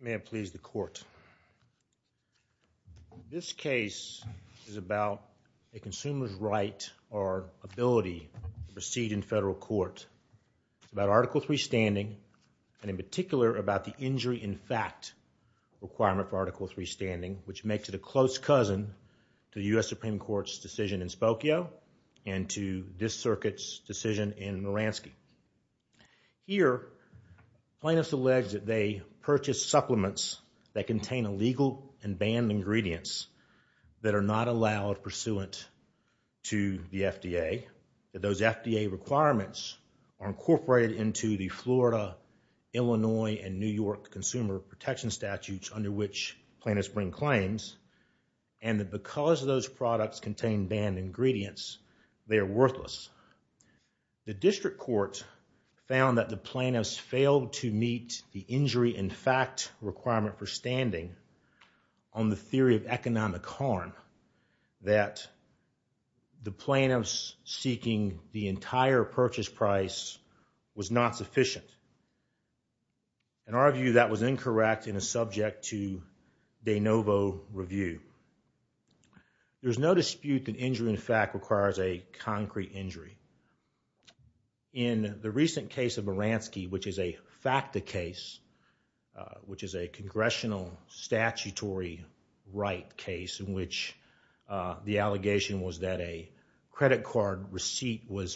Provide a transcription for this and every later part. May it please the court. This case is about a consumer's right or ability to proceed in federal court about Article III standing and in particular about the injury in fact requirement for Article III standing which makes it a close cousin to the U.S. Supreme Court's decision in Spokio and to this circuit's decision in Muransky. Here plaintiffs alleged that they purchased supplements that contain illegal and banned ingredients that are not allowed pursuant to the FDA, that those FDA requirements are incorporated into the Florida, Illinois, and New York Consumer Protection Statutes under which plaintiffs bring claims and that because those products contain banned ingredients, they are worthless. The district court found that the plaintiffs failed to meet the injury in fact requirement for standing on the theory of economic harm, that the plaintiffs seeking the entire purchase price was not sufficient. In our view, that was incorrect and is subject to de novo review. There's no dispute that injury in fact requires a concrete injury. In the recent case of Muransky, which is a FACTA case, which is a congressional statutory right case in which the allegation was that a credit card receipt was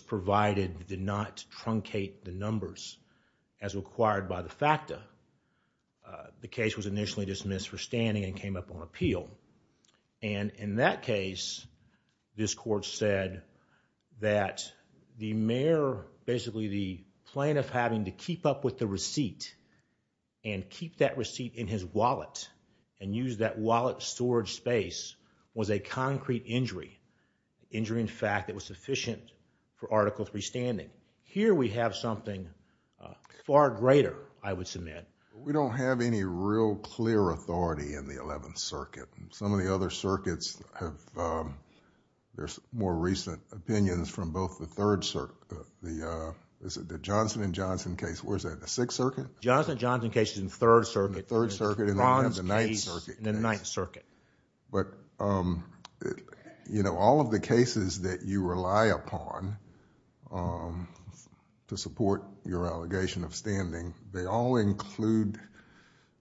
as required by the FACTA, the case was initially dismissed for standing and came up on appeal. And in that case, this court said that the mayor basically the plaintiff having to keep up with the receipt and keep that receipt in his wallet and use that wallet storage space was a concrete injury, injury in fact that was sufficient for Article III standing. Here we have something far greater, I would submit. We don't have any real clear authority in the Eleventh Circuit. Some of the other circuits have... there's more recent opinions from both the Third Circuit... the Johnson and Johnson case, where is that, the Sixth Circuit? Johnson and Johnson case is in the Third Circuit. In the Third Circuit and I have the Ninth Circuit case. In the Ninth Circuit. But all of the cases that you rely upon to support your allegation of standing, they all include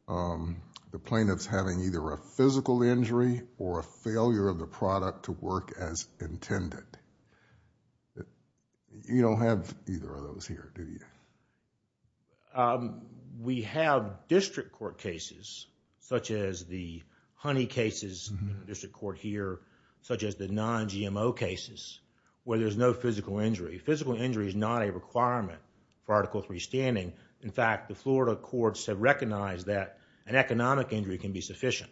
the plaintiff's having either a physical injury or a failure of the product to work as intended. You don't have either of those here, do you? No. We have district court cases such as the Honey cases in the district court here, such as the non-GMO cases where there's no physical injury. Physical injury is not a requirement for Article III standing. In fact, the Florida courts have recognized that an economic injury can be sufficient.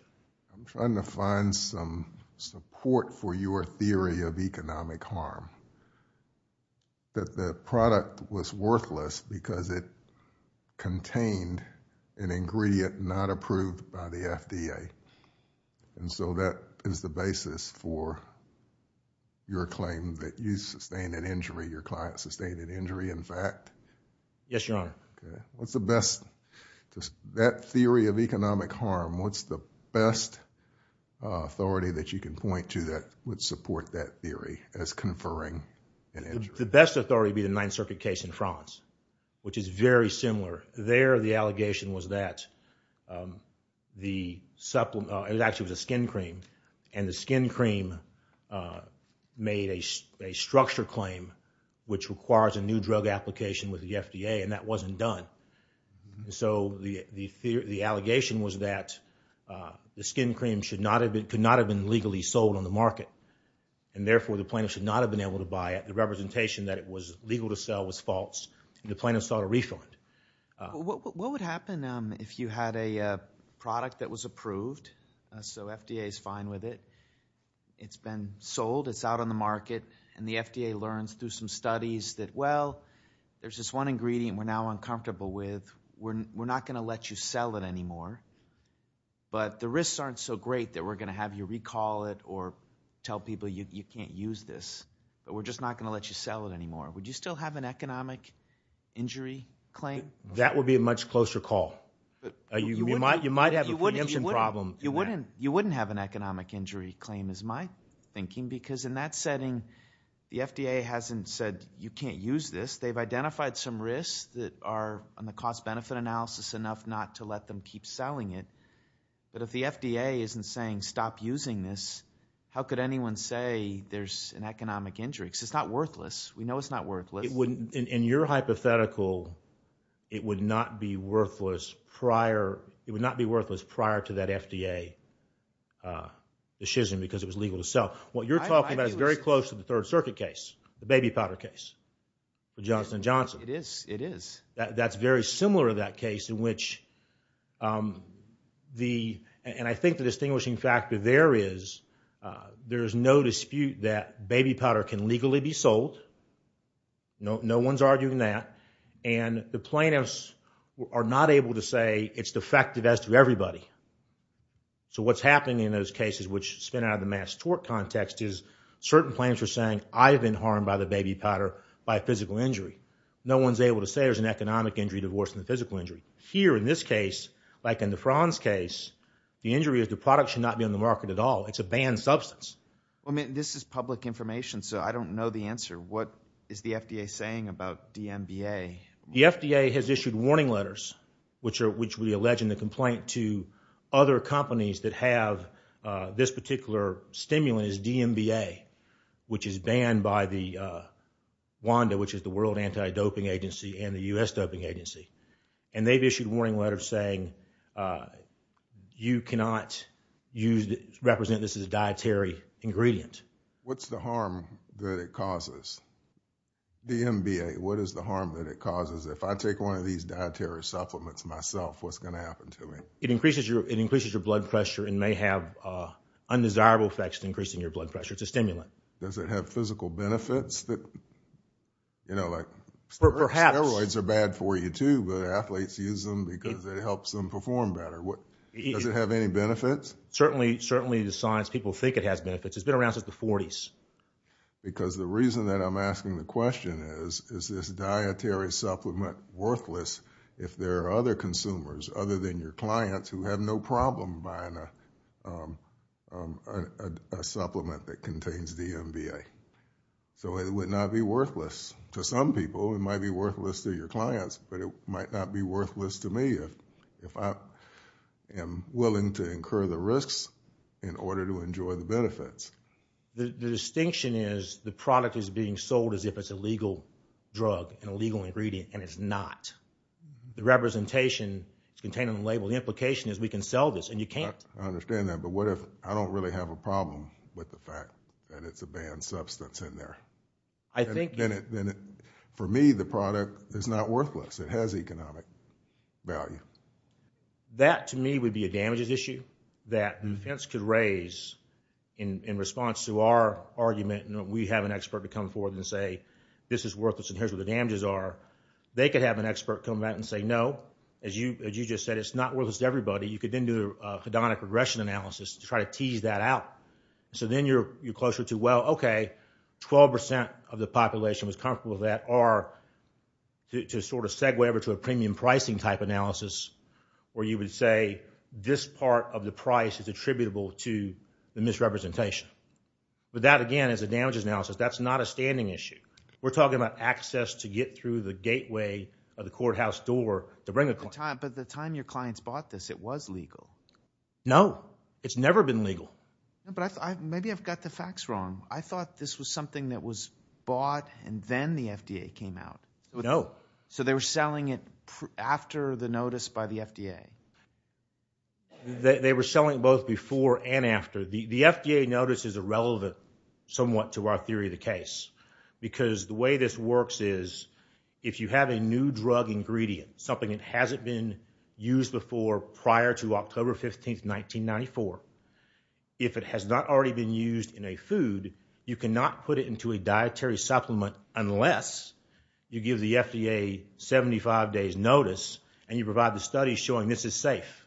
I'm trying to find some support for your theory of economic harm, that the product was worthless because it contained an ingredient not approved by the FDA. And so that is the basis for your claim that you sustained an injury, your client sustained an injury, in fact? Yes, Your Honor. Okay. What's the best... that theory of economic harm, what's the best authority that you can point to that would support that theory as conferring an injury? The best authority would be the Ninth Circuit case in France, which is very similar. There, the allegation was that the supplement... it actually was a skin cream. And the skin cream made a structure claim which requires a new drug application with the FDA, and that wasn't done. So the allegation was that the skin cream could not have been legally sold on the market, and therefore the plaintiff should not have been able to buy it. The representation that it was legal to sell was false, and the plaintiff sought a refund. What would happen if you had a product that was approved, so FDA's fine with it, it's been sold, it's out on the market, and the FDA learns through some studies that, well, there's this one ingredient we're now uncomfortable with, we're not going to let you sell it anymore, but the risks aren't so great that we're going to have you recall it or tell people you can't use this, but we're just not going to let you sell it anymore. Would you still have an economic injury claim? That would be a much closer call. You might have a preemption problem. You wouldn't have an economic injury claim, is my thinking, because in that setting, the FDA hasn't said you can't use this. They've identified some risks that are on the cost-benefit analysis enough not to let them keep selling it, but if the FDA isn't saying stop using this, how could anyone say there's an economic injury? Because it's not worthless. We know it's not worthless. It wouldn't, in your hypothetical, it would not be worthless prior, it would not be worthless prior to that FDA decision because it was legal to sell. What you're talking about is very close to the Third Circuit case, the baby powder case, the Johnson & Johnson. It is, it is. That's very similar to that case in which the, and I think the distinguishing factor there is, there's no dispute that baby powder can legally be sold. No one's arguing that, and the plaintiffs are not able to say it's defective as to everybody. So what's happening in those cases, which spin out of the mass tort context, is certain plaintiffs are saying, I've been harmed by the baby powder by a physical injury. No one's able to say there's an economic injury divorced from the physical injury. Here, in this case, like in the Franz case, the injury is the product should not be on the market at all. It's a banned substance. Well, I mean, this is public information, so I don't know the answer. What is the FDA saying about DMBA? The FDA has issued warning letters, which are, which we allege in the complaint to other companies that have this particular stimulant is DMBA, which is banned by the WANDA, which is the World Anti-Doping Agency and the U.S. Doping Agency. And they've issued warning letters saying, you cannot use, represent this as a dietary ingredient. What's the harm that it causes? DMBA, what is the harm that it causes? If I take one of these dietary supplements myself, what's going to happen to me? It increases your, it increases your blood pressure and may have undesirable effects to increasing your blood pressure. It's a stimulant. Does it have physical benefits that, you know, like steroids are bad for you too, but athletes use them because it helps them perform better. What, does it have any benefits? Certainly, certainly the science people think it has benefits. It's been around since the 40s. Because the reason that I'm asking the question is, is this dietary supplement worthless if there are other consumers other than your clients who have no problem buying a supplement that contains DMBA. So it would not be worthless to some people. It might be worthless to your clients, but it might not be worthless to me if, if I am The distinction is the product is being sold as if it's a legal drug and a legal ingredient and it's not. The representation is contained in the label. The implication is we can sell this and you can't. I understand that, but what if I don't really have a problem with the fact that it's a banned substance in there? I think For me, the product is not worthless. It has economic value. That to me would be a damages issue that defense could raise in response to our argument. We have an expert to come forward and say, this is worthless. And here's what the damages are. They could have an expert come out and say, no, as you, as you just said, it's not worthless to everybody. You could then do a hedonic regression analysis to try to tease that out. So then you're, you're closer to, well, okay, 12% of the population was comfortable that are to sort of segue over to a premium pricing type analysis, or you would say this part of the price is attributable to the misrepresentation. But that again, as a damages analysis, that's not a standing issue. We're talking about access to get through the gateway of the courthouse door to bring a client. But the time your clients bought this, it was legal. No, it's never been legal. Maybe I've got the facts wrong. I thought this was something that was bought and then the FDA came out. No. So they were selling it after the notice by the FDA. They were selling both before and after the, the FDA notice is irrelevant somewhat to our theory of the case. Because the way this works is if you have a new drug ingredient, something that hasn't been used before prior to October 15th, 1994. If it has not already been used in a food, you cannot put it into a dietary supplement unless you give the FDA 75 days notice and you provide the study showing this is safe.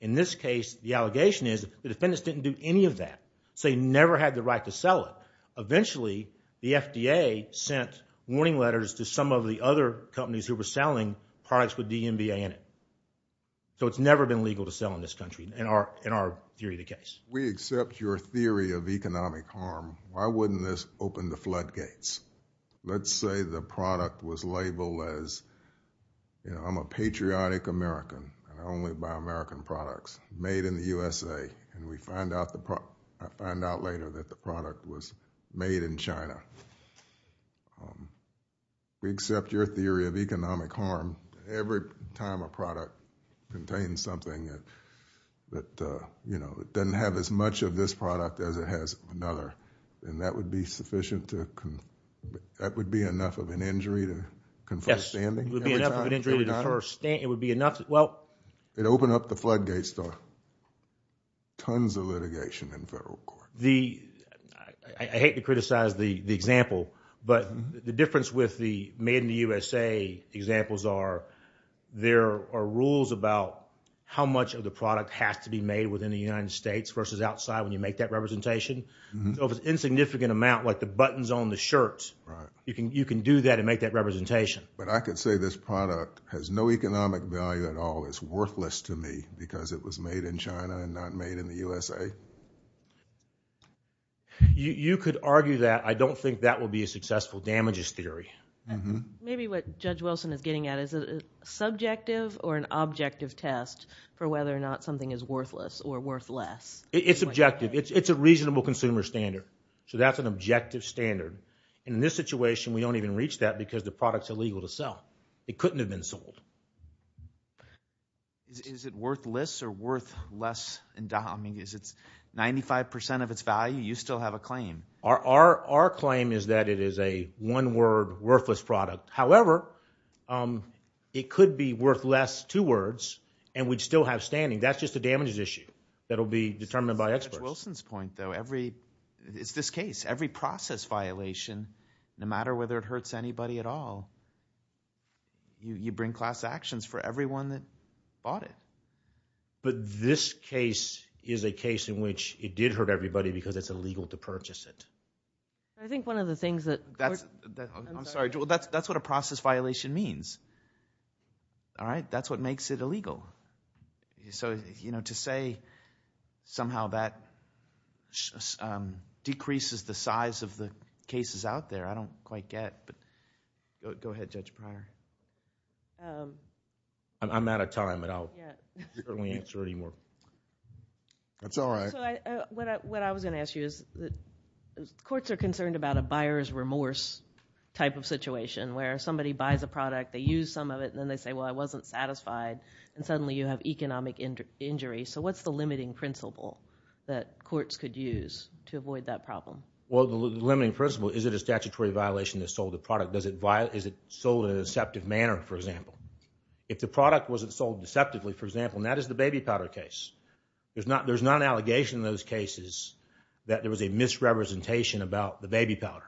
In this case, the allegation is the defendants didn't do any of that. So you never had the right to sell it. Eventually, the FDA sent warning letters to some of the other companies who were selling products with DMVA in it. So it's never been legal to sell in this country in our, in our theory of the case. We accept your theory of economic harm. Why wouldn't this open the floodgates? Let's say the product was labeled as, you know, I'm a patriotic American and I only buy American products made in the USA. And we find out the, I find out later that the product was made in China. We accept your theory of economic harm. Every time a product contains something that, that, uh, you know, it doesn't have as much of this product as it has another, and that would be sufficient to, that would be enough of an injury to confirm standing? Yes, it would be enough of an injury to confirm standing, it would be enough, well. It opened up the floodgates to tons of litigation in federal court. The, I hate to criticize the example, but the difference with the made in the USA examples are there are rules about how much of the product has to be made within the United States versus outside when you make that representation of an insignificant amount, like the buttons on the shirt, you can, you can do that and make that representation. But I could say this product has no economic value at all. It's worthless to me because it was made in China and not made in the USA. You, you could argue that. I don't think that will be a successful damages theory. Maybe what Judge Wilson is getting at is a subjective or an objective test for whether or not something is worthless or worth less. It's objective. It's, it's a reasonable consumer standard. So that's an objective standard. In this situation, we don't even reach that because the product's illegal to sell. It couldn't have been sold. Is it worthless or worth less? I mean, is it 95% of its value? You still have a claim. Our, our, our claim is that it is a one word worthless product. However, it could be worth less, two words, and we'd still have standing. That's just a damages issue. That'll be determined by experts. Wilson's point though, every, it's this case, every process violation, no matter whether it hurts anybody at all, you bring class actions for everyone that bought it. But this case is a case in which it did hurt everybody because it's illegal to purchase it. I think one of the things that. I'm sorry, that's, that's what a process violation means. All right. That's what makes it illegal. So, you know, to say somehow that decreases the size of the cases out there, I don't quite get, but go ahead, Judge Pryor. Um, I'm, I'm out of time, but I'll certainly answer any more. That's all right. So I, what I, what I was going to ask you is that courts are concerned about a buyer's remorse type of situation where somebody buys a product, they use some of it, and then they say, well, I wasn't satisfied. And suddenly you have economic injury. So what's the limiting principle that courts could use to avoid that problem? Well, the limiting principle, is it a statutory violation that sold the product? Is it sold in a deceptive manner, for example? If the product wasn't sold deceptively, for example, and that is the baby powder case. There's not, there's not an allegation in those cases that there was a misrepresentation about the baby powder.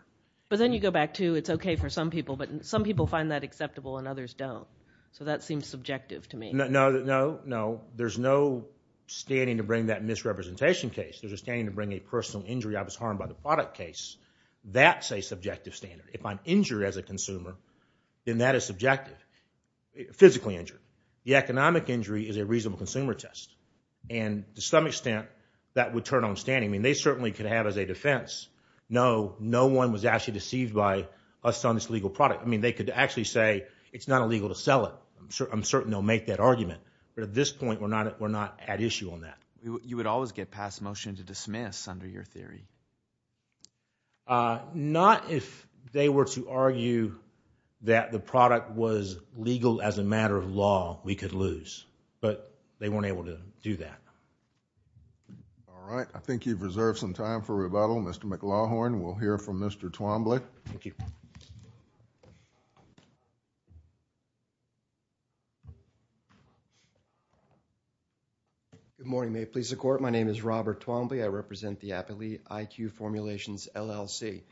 But then you go back to, it's okay for some people, but some people find that acceptable and others don't. So that seems subjective to me. No, no, no, no. There's no standing to bring that misrepresentation case. There's a standing to bring a personal injury. I was harmed by the product case. That's a subjective standard. If I'm injured as a consumer, then that is subjective. Physically injured. The economic injury is a reasonable consumer test. And to some extent, that would turn on standing. I mean, they certainly could have as a defense, no, no one was actually deceived by us selling this legal product. I mean, they could actually say, it's not illegal to sell it. I'm certain they'll make that argument. But at this point, we're not at issue on that. You would always get past motion to dismiss under your theory. Not if they were to argue that the product was legal as a matter of law, we could lose. But they weren't able to do that. All right. I think you've reserved some time for rebuttal. Mr. McLaughlin, we'll hear from Mr. Twombly. Thank you. Good morning. May it please the court. My name is Robert Twombly. I represent the Appalachee High School. I'm a member of the High School IQ Formulations LLC.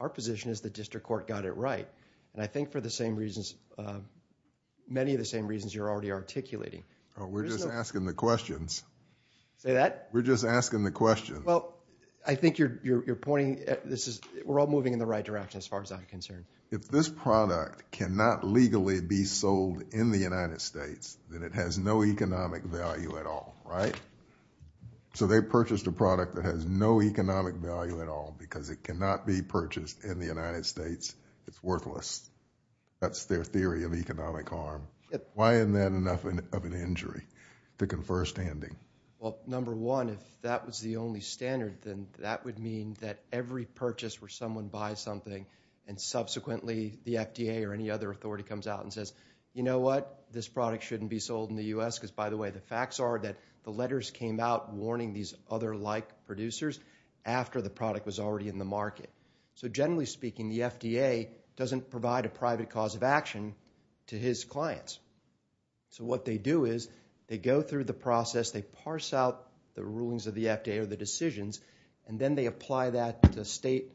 Our position is the district court got it right. And I think for the same reasons, many of the same reasons you're already articulating. We're just asking the questions. Say that? We're just asking the questions. Well, I think you're pointing, we're all moving in the right direction as far as I'm concerned. If this product cannot legally be sold in the United States, then it has no economic value at all, right? So they purchased a product that has no economic value at all, because it cannot be purchased in the United States. It's worthless. That's their theory of economic harm. Why isn't that enough of an injury to confer standing? Well, number one, if that was the only standard, then that would mean that every purchase where someone buys something and subsequently the FDA or any other authority comes out and says, you know what, this product shouldn't be sold in the U.S. Because by the way, the facts are that the letters came out warning these other like producers after the product was already in the market. So generally speaking, the FDA doesn't provide a private cause of action to his clients. So what they do is they go through the process, they parse out the rulings of the FDA or the decisions, and then they apply that to state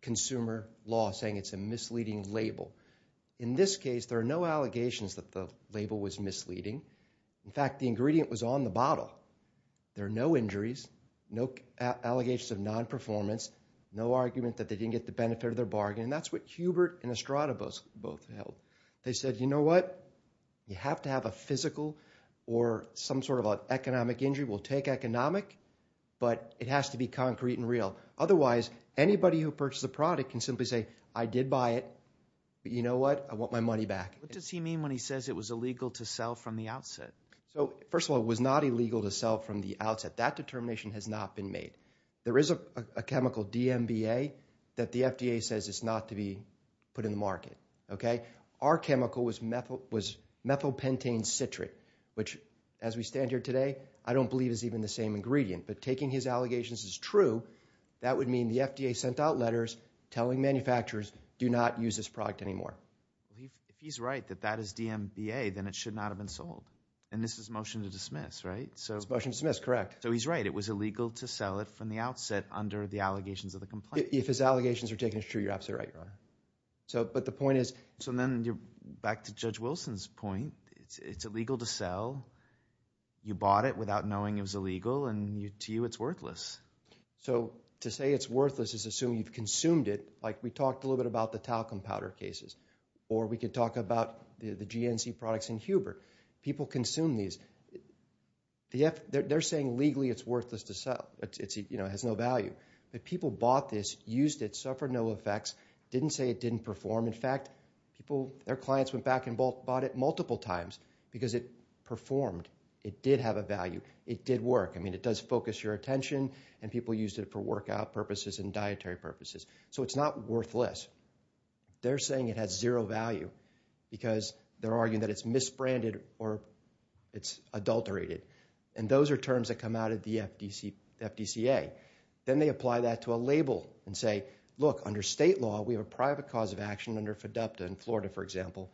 consumer law saying it's a misleading label. In this case, there are no allegations that the label was misleading. In fact, the ingredient was on the bottle. There are no injuries, no allegations of non-performance, no argument that they didn't get the benefit of their bargain. And that's what Hubert and Estrada both held. They said, you know what, you have to have a physical or some sort of economic injury. We'll take economic, but it has to be concrete and real. Otherwise, anybody who purchased the product can simply say, I did buy it, but you know what, I want my money back. What does he mean when he says it was illegal to sell from the outset? So first of all, it was not illegal to sell from the outset. That determination has not been made. There is a chemical DMBA that the FDA says it's not to be put in the market, okay? Our chemical was methylpentane citric, which as we stand here today, I don't believe is even the same ingredient. But taking his allegations as true, that would mean the FDA sent out letters telling manufacturers do not use this product anymore. If he's right that that is DMBA, then it should not have been sold. And this is a motion to dismiss, right? It's a motion to dismiss, correct. So he's right. It was illegal to sell it from the outset under the allegations of the complaint. If his allegations are taken as true, you're absolutely right, Your Honor. But the point is— So then you're back to Judge Wilson's point. It's illegal to sell. You bought it without knowing it was illegal. And to you, it's worthless. So to say it's worthless is assuming you've consumed it. We talked a little bit about the talcum powder cases. Or we could talk about the GNC products in Huber. People consume these. They're saying legally it's worthless to sell. It has no value. But people bought this, used it, suffered no effects, didn't say it didn't perform. In fact, their clients went back and bought it multiple times because it performed. It did have a value. It did work. I mean, it does focus your attention. And people used it for workout purposes and dietary purposes. So it's not worthless. They're saying it has zero value because they're arguing that it's misbranded or it's adulterated. And those are terms that come out of the FDCA. Then they apply that to a label and say, look, under state law, we have a private cause of action under FDUPTA in Florida, for example,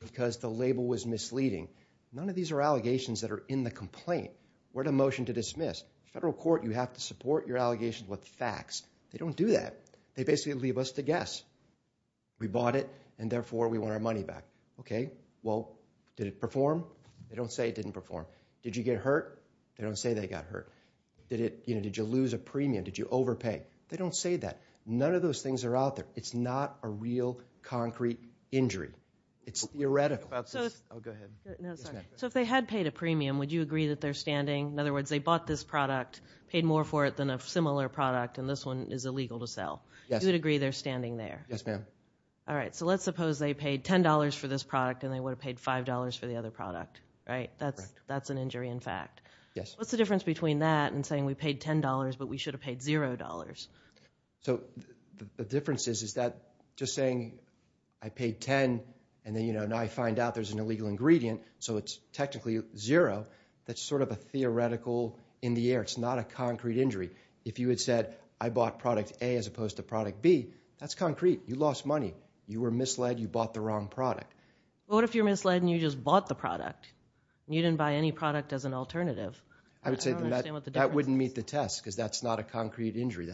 because the label was misleading. None of these are allegations that are in the complaint. We're in a motion to dismiss. Federal court, you have to support your allegations with facts. They don't do that. They basically leave us to guess. We bought it, and therefore, we want our money back. OK, well, did it perform? They don't say it didn't perform. Did you get hurt? They don't say they got hurt. Did you lose a premium? Did you overpay? They don't say that. None of those things are out there. It's not a real concrete injury. It's theoretical. So if they had paid a premium, would you agree that they're standing? In other words, they bought this product, paid more for it than a similar product, and this one is illegal to sell. You would agree they're standing there? Yes, ma'am. All right, so let's suppose they paid $10 for this product, and they would have paid $5 for the other product, right? That's an injury in fact. Yes. What's the difference between that and saying we paid $10, but we should have paid $0? So the difference is that just saying I paid $10, and then I find out there's an illegal ingredient, so it's technically $0. That's sort of a theoretical in the air. It's not a concrete injury. If you had said I bought product A as opposed to product B, that's concrete. You lost money. You were misled. You bought the wrong product. But what if you're misled, and you just bought the product? You didn't buy any product as an alternative. I would say that wouldn't meet the test, because that's not a concrete injury.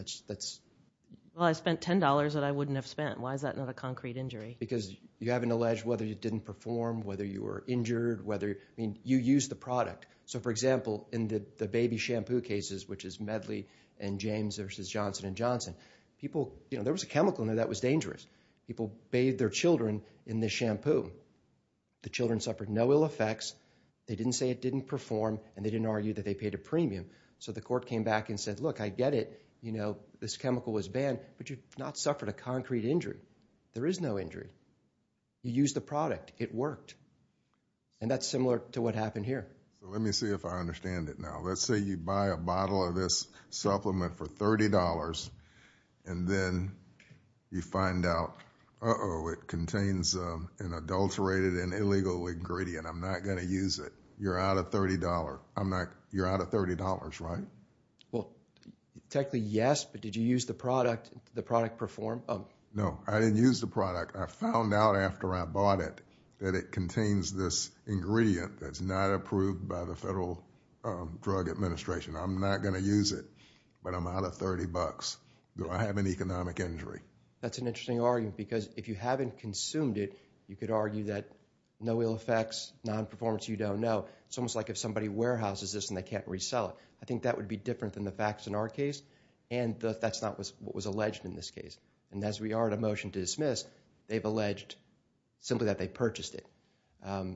Well, I spent $10 that I wouldn't have spent. Why is that not a concrete injury? Because you haven't alleged whether you didn't perform, whether you were injured. You used the product. So for example, in the baby shampoo cases, which is Medley and James versus Johnson & Johnson, people, you know, there was a chemical in there that was dangerous. People bathed their children in this shampoo. The children suffered no ill effects. They didn't say it didn't perform, and they didn't argue that they paid a premium. So the court came back and said, look, I get it. You know, this chemical was banned, but you've not suffered a concrete injury. There is no injury. You used the product. It worked. And that's similar to what happened here. Let me see if I understand it now. Let's say you buy a bottle of this supplement for $30, and then you find out, uh-oh, it contains an adulterated and illegal ingredient. I'm not going to use it. You're out of $30. You're out of $30, right? Well, technically, yes, but did you use the product? Did the product perform? No, I didn't use the product. I found out after I bought it that it contains this ingredient that's not approved by the Federal Drug Administration. I'm not going to use it, but I'm out of $30. Do I have an economic injury? That's an interesting argument, because if you haven't consumed it, you could argue that no ill effects, non-performance, you don't know. It's almost like if somebody warehouses this and they can't resell it. I think that would be different than the facts in our case, and that's not what was alleged in this case. As we are at a motion to dismiss, they've alleged simply that they purchased it.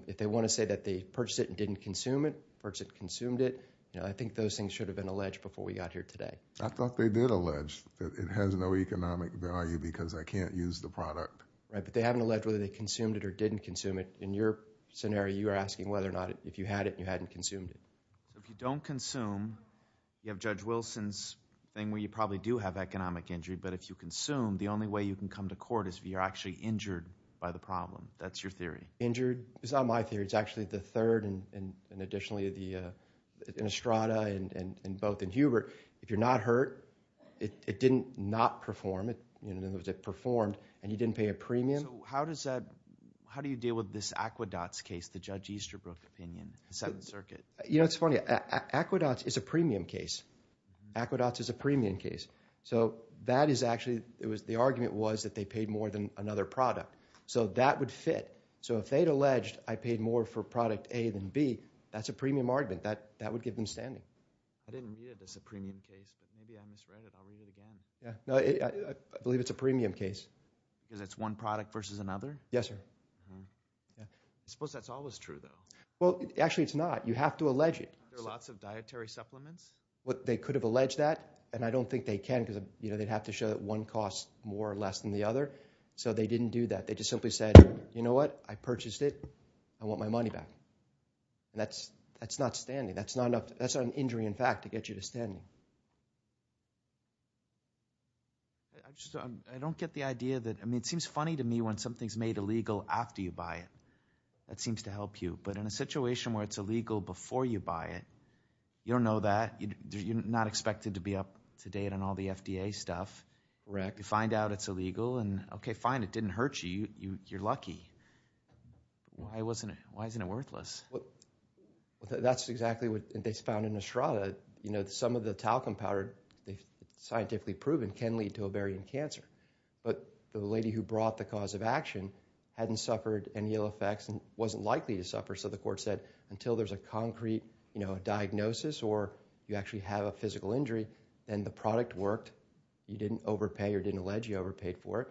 If they want to say that they purchased it and didn't consume it, purchased it, consumed it, I think those things should have been alleged before we got here today. I thought they did allege that it has no economic value because I can't use the product. Right, but they haven't alleged whether they consumed it or didn't consume it. In your scenario, you are asking whether or not, if you had it and you hadn't consumed it. If you don't consume, you have Judge Wilson's thing where you probably do have economic injury, but if you consume, the only way you can come to court is if you're actually injured by the problem. That's your theory. Injured is not my theory. It's actually the third, and additionally, in Estrada and both in Hubert. If you're not hurt, it didn't not perform. In other words, it performed and you didn't pay a premium. So how do you deal with this Aquedots case, the Judge Easterbrook opinion, the Seventh Circuit? You know, it's funny. Aquedots is a premium case. Aquedots is a premium case. So that is actually, the argument was that they paid more than another product. So that would fit. So if they'd alleged I paid more for product A than B, that's a premium argument. That would give them standing. I didn't read it as a premium case, but maybe I misread it. I'll read it again. Yeah, no, I believe it's a premium case. Because it's one product versus another? Yes, sir. I suppose that's always true, though. Well, actually, it's not. You have to allege it. There are lots of dietary supplements. They could have alleged that, and I don't think they can because they'd have to show that one costs more or less than the other. So they didn't do that. They just simply said, you know what? I purchased it. I want my money back. That's not standing. That's not enough. That's an injury, in fact, to get you to stand. I don't get the idea that, I mean, it seems funny to me when something's made illegal after you buy it. That seems to help you. But in a situation where it's illegal before you buy it, you don't know that. You're not expected to be up to date on all the FDA stuff. Correct. You find out it's illegal, and OK, fine. It didn't hurt you. You're lucky. Why isn't it worthless? That's exactly what they found in Estrada. Some of the talcum powder, scientifically proven, can lead to ovarian cancer. But the lady who brought the cause of action hadn't suffered any ill effects and wasn't likely to suffer. So the court said, until there's a concrete diagnosis or you actually have a physical injury, then the product worked. You didn't overpay or didn't allege you overpaid for it.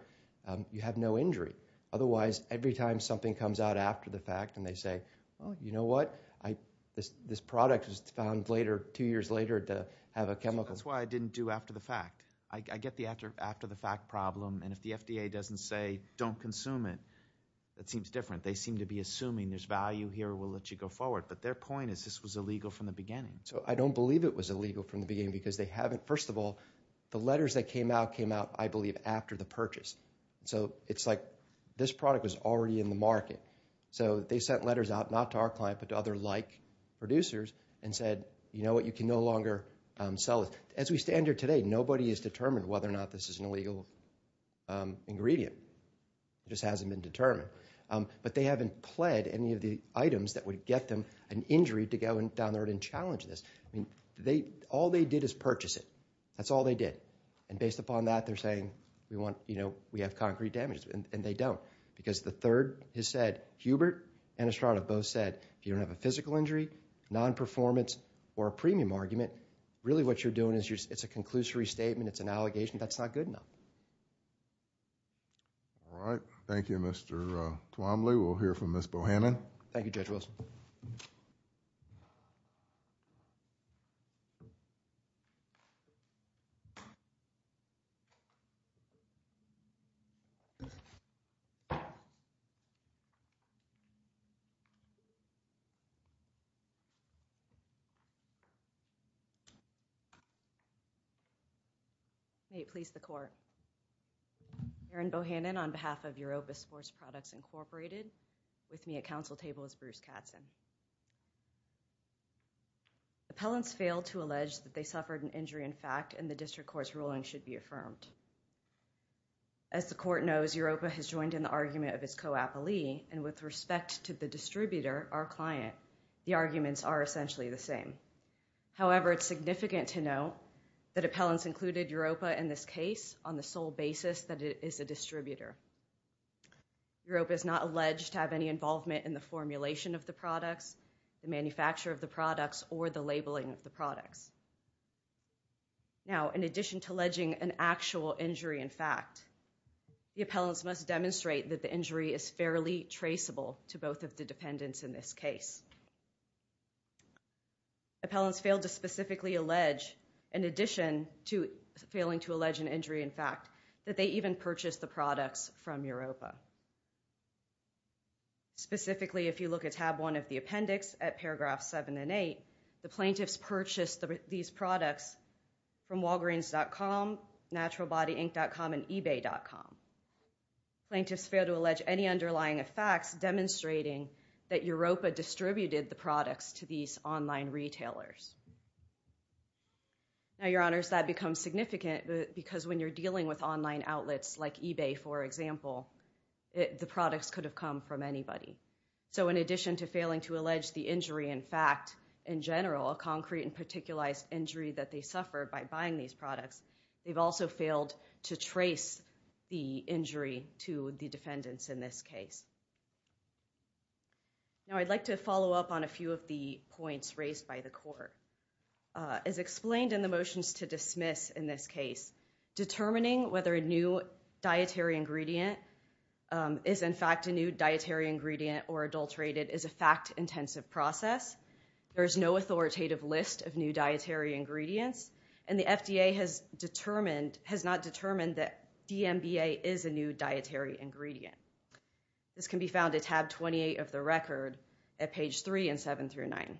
You have no injury. Otherwise, every time something comes out after the fact and they say, oh, you know what? This product was found later, two years later, to have a chemical. That's why I didn't do after the fact. I get the after the fact problem. And if the FDA doesn't say, don't consume it, that seems different. They seem to be assuming there's value here. We'll let you go forward. But their point is this was illegal from the beginning. So I don't believe it was illegal from the beginning because they haven't, first of all, the letters that came out came out, I believe, after the purchase. So it's like this product was already in the market. So they sent letters out, not to our client, but to other like producers and said, you know what? You can no longer sell it. As we stand here today, nobody has determined whether or not this is an illegal ingredient. It just hasn't been determined. But they haven't pled any of the items that would get them an injury to go down there and challenge this. All they did is purchase it. That's all they did. And based upon that, they're saying, we have concrete damages. And they don't. Because the third has said, Hubert and Estrada both said, if you don't have a physical injury, non-performance, or a premium argument, really what you're doing is it's a conclusory statement. It's an allegation. That's not good enough. All right. Thank you, Mr. Quamley. We'll hear from Ms. Bohannon. Thank you, Judge Wilson. Thank you, Mr. Quamley. May it please the court. Erin Bohannon on behalf of Europa Sports Products, Incorporated. With me at council table is Bruce Katzen. The appellants failed to allege that they suffered an injury in fact, and the district court's ruling should be affirmed. As the court knows, Europa has joined in the argument of its co-appellee. And with respect to the distributor, our client, the arguments are essentially the same. However, it's significant to note that appellants included Europa in this case on the sole basis that it is a distributor. Europa is not alleged to have any involvement in the formulation of the products. The manufacture of the products or the labeling of the products. Now, in addition to alleging an actual injury in fact, the appellants must demonstrate that the injury is fairly traceable to both of the dependents in this case. Appellants failed to specifically allege, in addition to failing to allege an injury in fact, that they even purchased the products from Europa. Specifically, if you look at tab one of the appendix at paragraph seven and eight, the plaintiffs purchased these products from Walgreens.com, naturalbodyinc.com, and ebay.com. Plaintiffs failed to allege any underlying effects demonstrating that Europa distributed the products to these online retailers. Now, your honors, that becomes significant because when you're dealing with online outlets like eBay, for example, the products could have come from anybody. So in addition to failing to allege the injury in fact, in general, a concrete and particularized injury that they suffered by buying these products, they've also failed to trace the injury to the defendants in this case. Now, I'd like to follow up on a few of the points raised by the court. As explained in the motions to dismiss in this case, determining whether a new dietary ingredient is in fact a new dietary ingredient or adulterated is a fact-intensive process. There's no authoritative list of new dietary ingredients, and the FDA has determined, has not determined that DMBA is a new dietary ingredient. This can be found at tab 28 of the record at page three and seven through nine.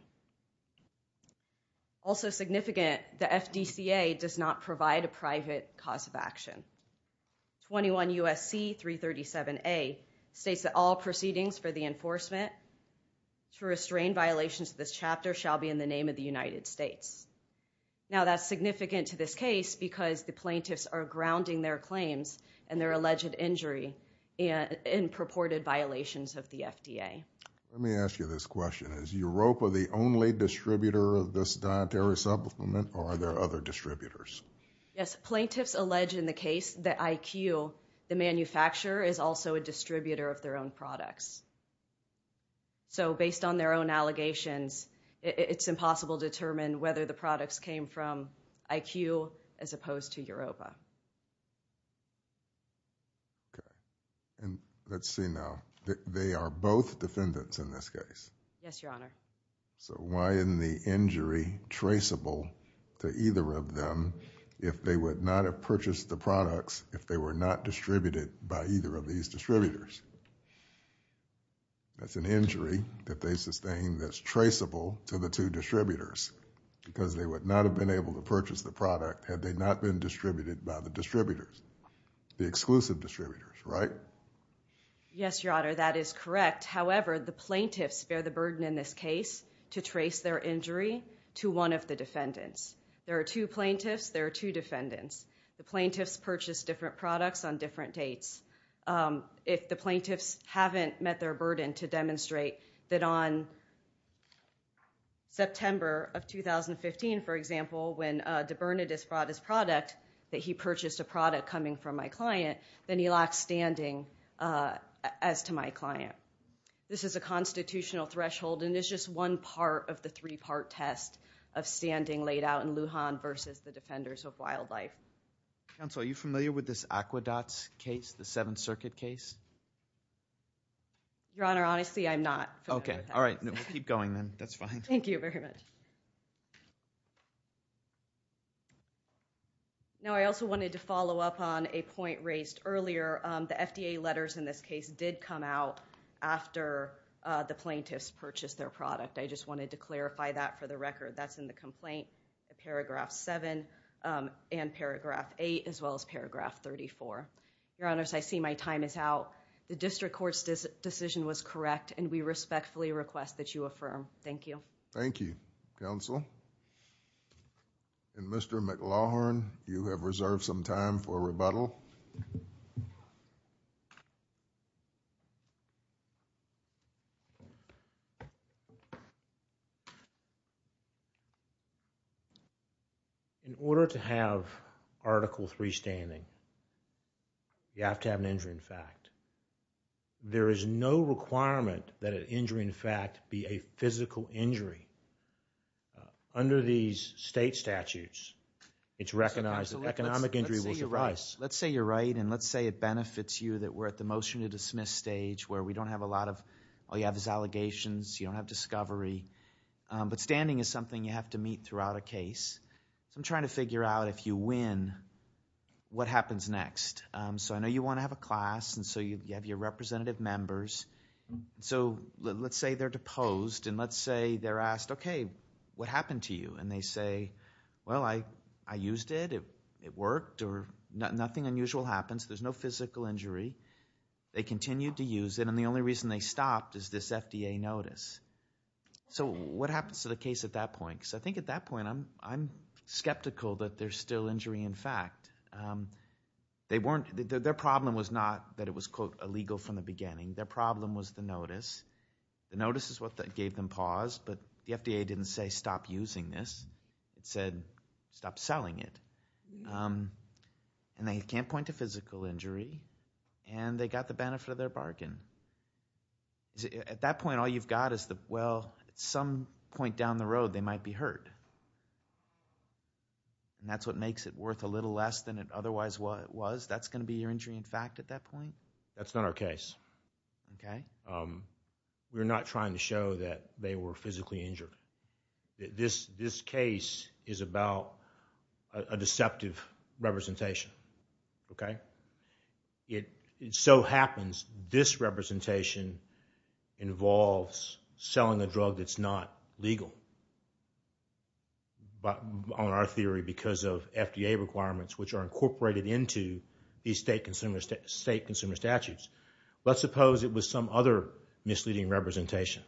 Also significant, the FDCA does not provide a private cause of action. 21 U.S.C. 337A states that all proceedings for the enforcement to restrain violations of this chapter shall be in the name of the United States. Now, that's significant to this case because the plaintiffs are grounding their claims and their alleged injury in purported violations of the FDA. Let me ask you this question. Is Europa the only distributor of this dietary supplement or are there other distributors? Yes, plaintiffs allege in the case that IQ, the manufacturer, is also a distributor of their own products. So based on their own allegations, it's impossible to determine whether the products came from IQ as opposed to Europa. Okay. And let's see now. They are both defendants in this case. Yes, Your Honor. So why in the injury traceable to either of them if they would not have purchased the products if they were not distributed by either of these distributors? That's an injury that they sustain that's traceable to the two distributors because they would not have been able to purchase the product had they not been distributed by the distributors, the exclusive distributors, right? Yes, Your Honor. That is correct. However, the plaintiffs bear the burden in this case to trace their injury to one of the defendants. There are two plaintiffs. There are two defendants. The plaintiffs purchased different products on different dates. If the plaintiffs haven't met their burden to demonstrate that on September of 2015, for example, when DeBernadette brought his product, that he purchased a product coming from my client, then he lacks standing as to my client. This is a constitutional threshold, and it's just one part of the three-part test of standing laid out in Lujan versus the defenders of wildlife. Counsel, are you familiar with this Aquedots case, the Seventh Circuit case? Your Honor, honestly, I'm not. Okay. All right. Keep going then. That's fine. Thank you very much. Now, I also wanted to follow up on a point raised earlier. The FDA letters in this case did come out after the plaintiffs purchased their product. I just wanted to clarify that for the record. That's in the complaint, the Paragraph 7 and Paragraph 8, as well as Paragraph 34. Your Honors, I see my time is out. The district court's decision was correct, and we respectfully request that you affirm. Thank you. Thank you, counsel. Mr. McLaughlin, you have reserved some time for rebuttal. Thank you. In order to have Article 3 standing, you have to have an injury in fact. There is no requirement that an injury in fact be a physical injury. Under these state statutes, it's recognized that economic injury will suffice. Let's say you're right, and let's say it benefits you that we're at the motion to dismiss stage where we don't have a lot of... all you have is allegations. You don't have discovery. But standing is something you have to meet throughout a case. I'm trying to figure out if you win, what happens next? I know you want to have a class, and so you have your representative members. Let's say they're deposed, and let's say they're asked, okay, what happened to you? They say, well, I used it. It worked. Nothing unusual happens. There's no physical injury. They continued to use it, and the only reason they stopped is this FDA notice. What happens to the case at that point? I think at that point, I'm skeptical that there's still injury in fact. Their problem was not that it was, quote, illegal from the beginning. Their problem was the notice. The notice is what gave them pause, but the FDA didn't say stop using this. It said stop selling it. And they can't point to physical injury, and they got the benefit of their bargain. At that point, all you've got is the, well, at some point down the road, they might be hurt. And that's what makes it worth a little less than it otherwise was. That's going to be your injury in fact at that point? That's not our case. Okay. We're not trying to show that they were physically injured. This case is about a deceptive representation. Okay. It so happens, this representation involves selling a drug that's not legal. On our theory, because of FDA requirements, which are incorporated into these state consumer statutes. Let's suppose it was some other misleading representation.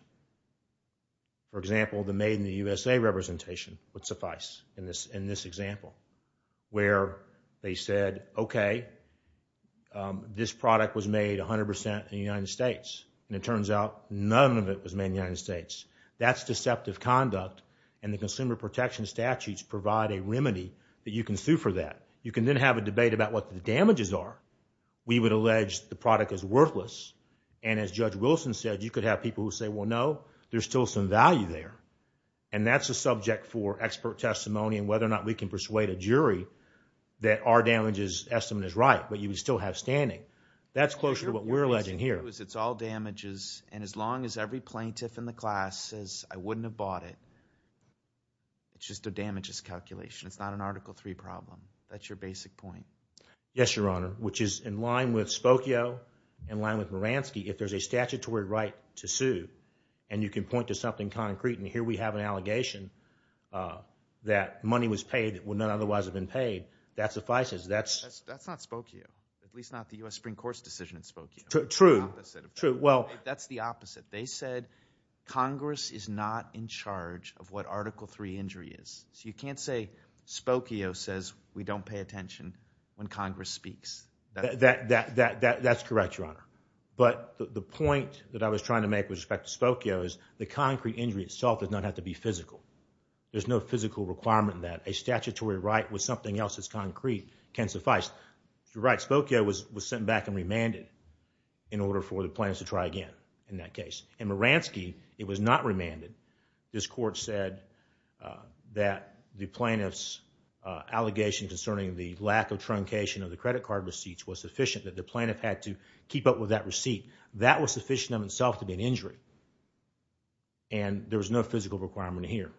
For example, the made in the USA representation would suffice in this example. Where they said, okay, this product was made 100% in the United States. And it turns out none of it was made in the United States. That's deceptive conduct. And the consumer protection statutes provide a remedy that you can sue for that. You can then have a debate about what the damages are. We would allege the product is worthless. And as Judge Wilson said, you could have people who say, well, no, there's still some value there. And that's a subject for expert testimony and whether or not we can persuade a jury that our damages estimate is right. But you would still have standing. That's closer to what we're alleging here. Because it's all damages. And as long as every plaintiff in the class says, I wouldn't have bought it. It's just a damages calculation. It's not an Article III problem. That's your basic point. Yes, Your Honor. Which is in line with Spokio, in line with Moransky. If there's a statutory right to sue and you can point to something concrete. And here we have an allegation that money was paid that would not otherwise have been paid. That suffices. That's not Spokio. At least not the U.S. Supreme Court's decision in Spokio. True, true. Well, that's the opposite. They said Congress is not in charge of what Article III injury is. So you can't say Spokio says we don't pay attention when Congress speaks. That's correct, Your Honor. But the point that I was trying to make with respect to Spokio is the concrete injury itself does not have to be physical. There's no physical requirement that a statutory right with something else that's concrete can suffice. You're right. Spokio was sent back and remanded in order for the plaintiffs to try again in that case. In Moransky, it was not remanded. This Court said that the plaintiff's allegation concerning the lack of truncation of the credit card receipts was sufficient, that the plaintiff had to keep up with that receipt. That was sufficient in itself to be an injury. And there was no physical requirement here.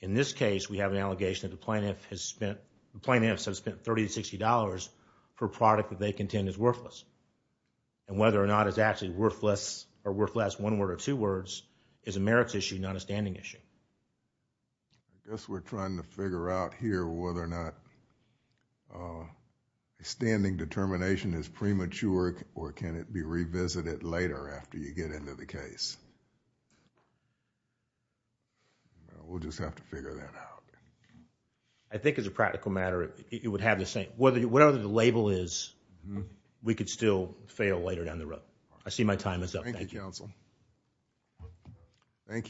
In this case, we have an allegation that the plaintiff has spent, the plaintiffs have spent $30 to $60 per product that they contend is worthless. And whether or not it's actually worthless or worthless, one word or two words, is a merits issue, not a standing issue. I guess we're trying to figure out here whether or not a standing determination is premature or can it be revisited later after you get into the case. We'll just have to figure that out. I think as a practical matter, it would have the same... whatever the label is, we could still fail later down the road. I see my time is up. Thank you, counsel. Thank you.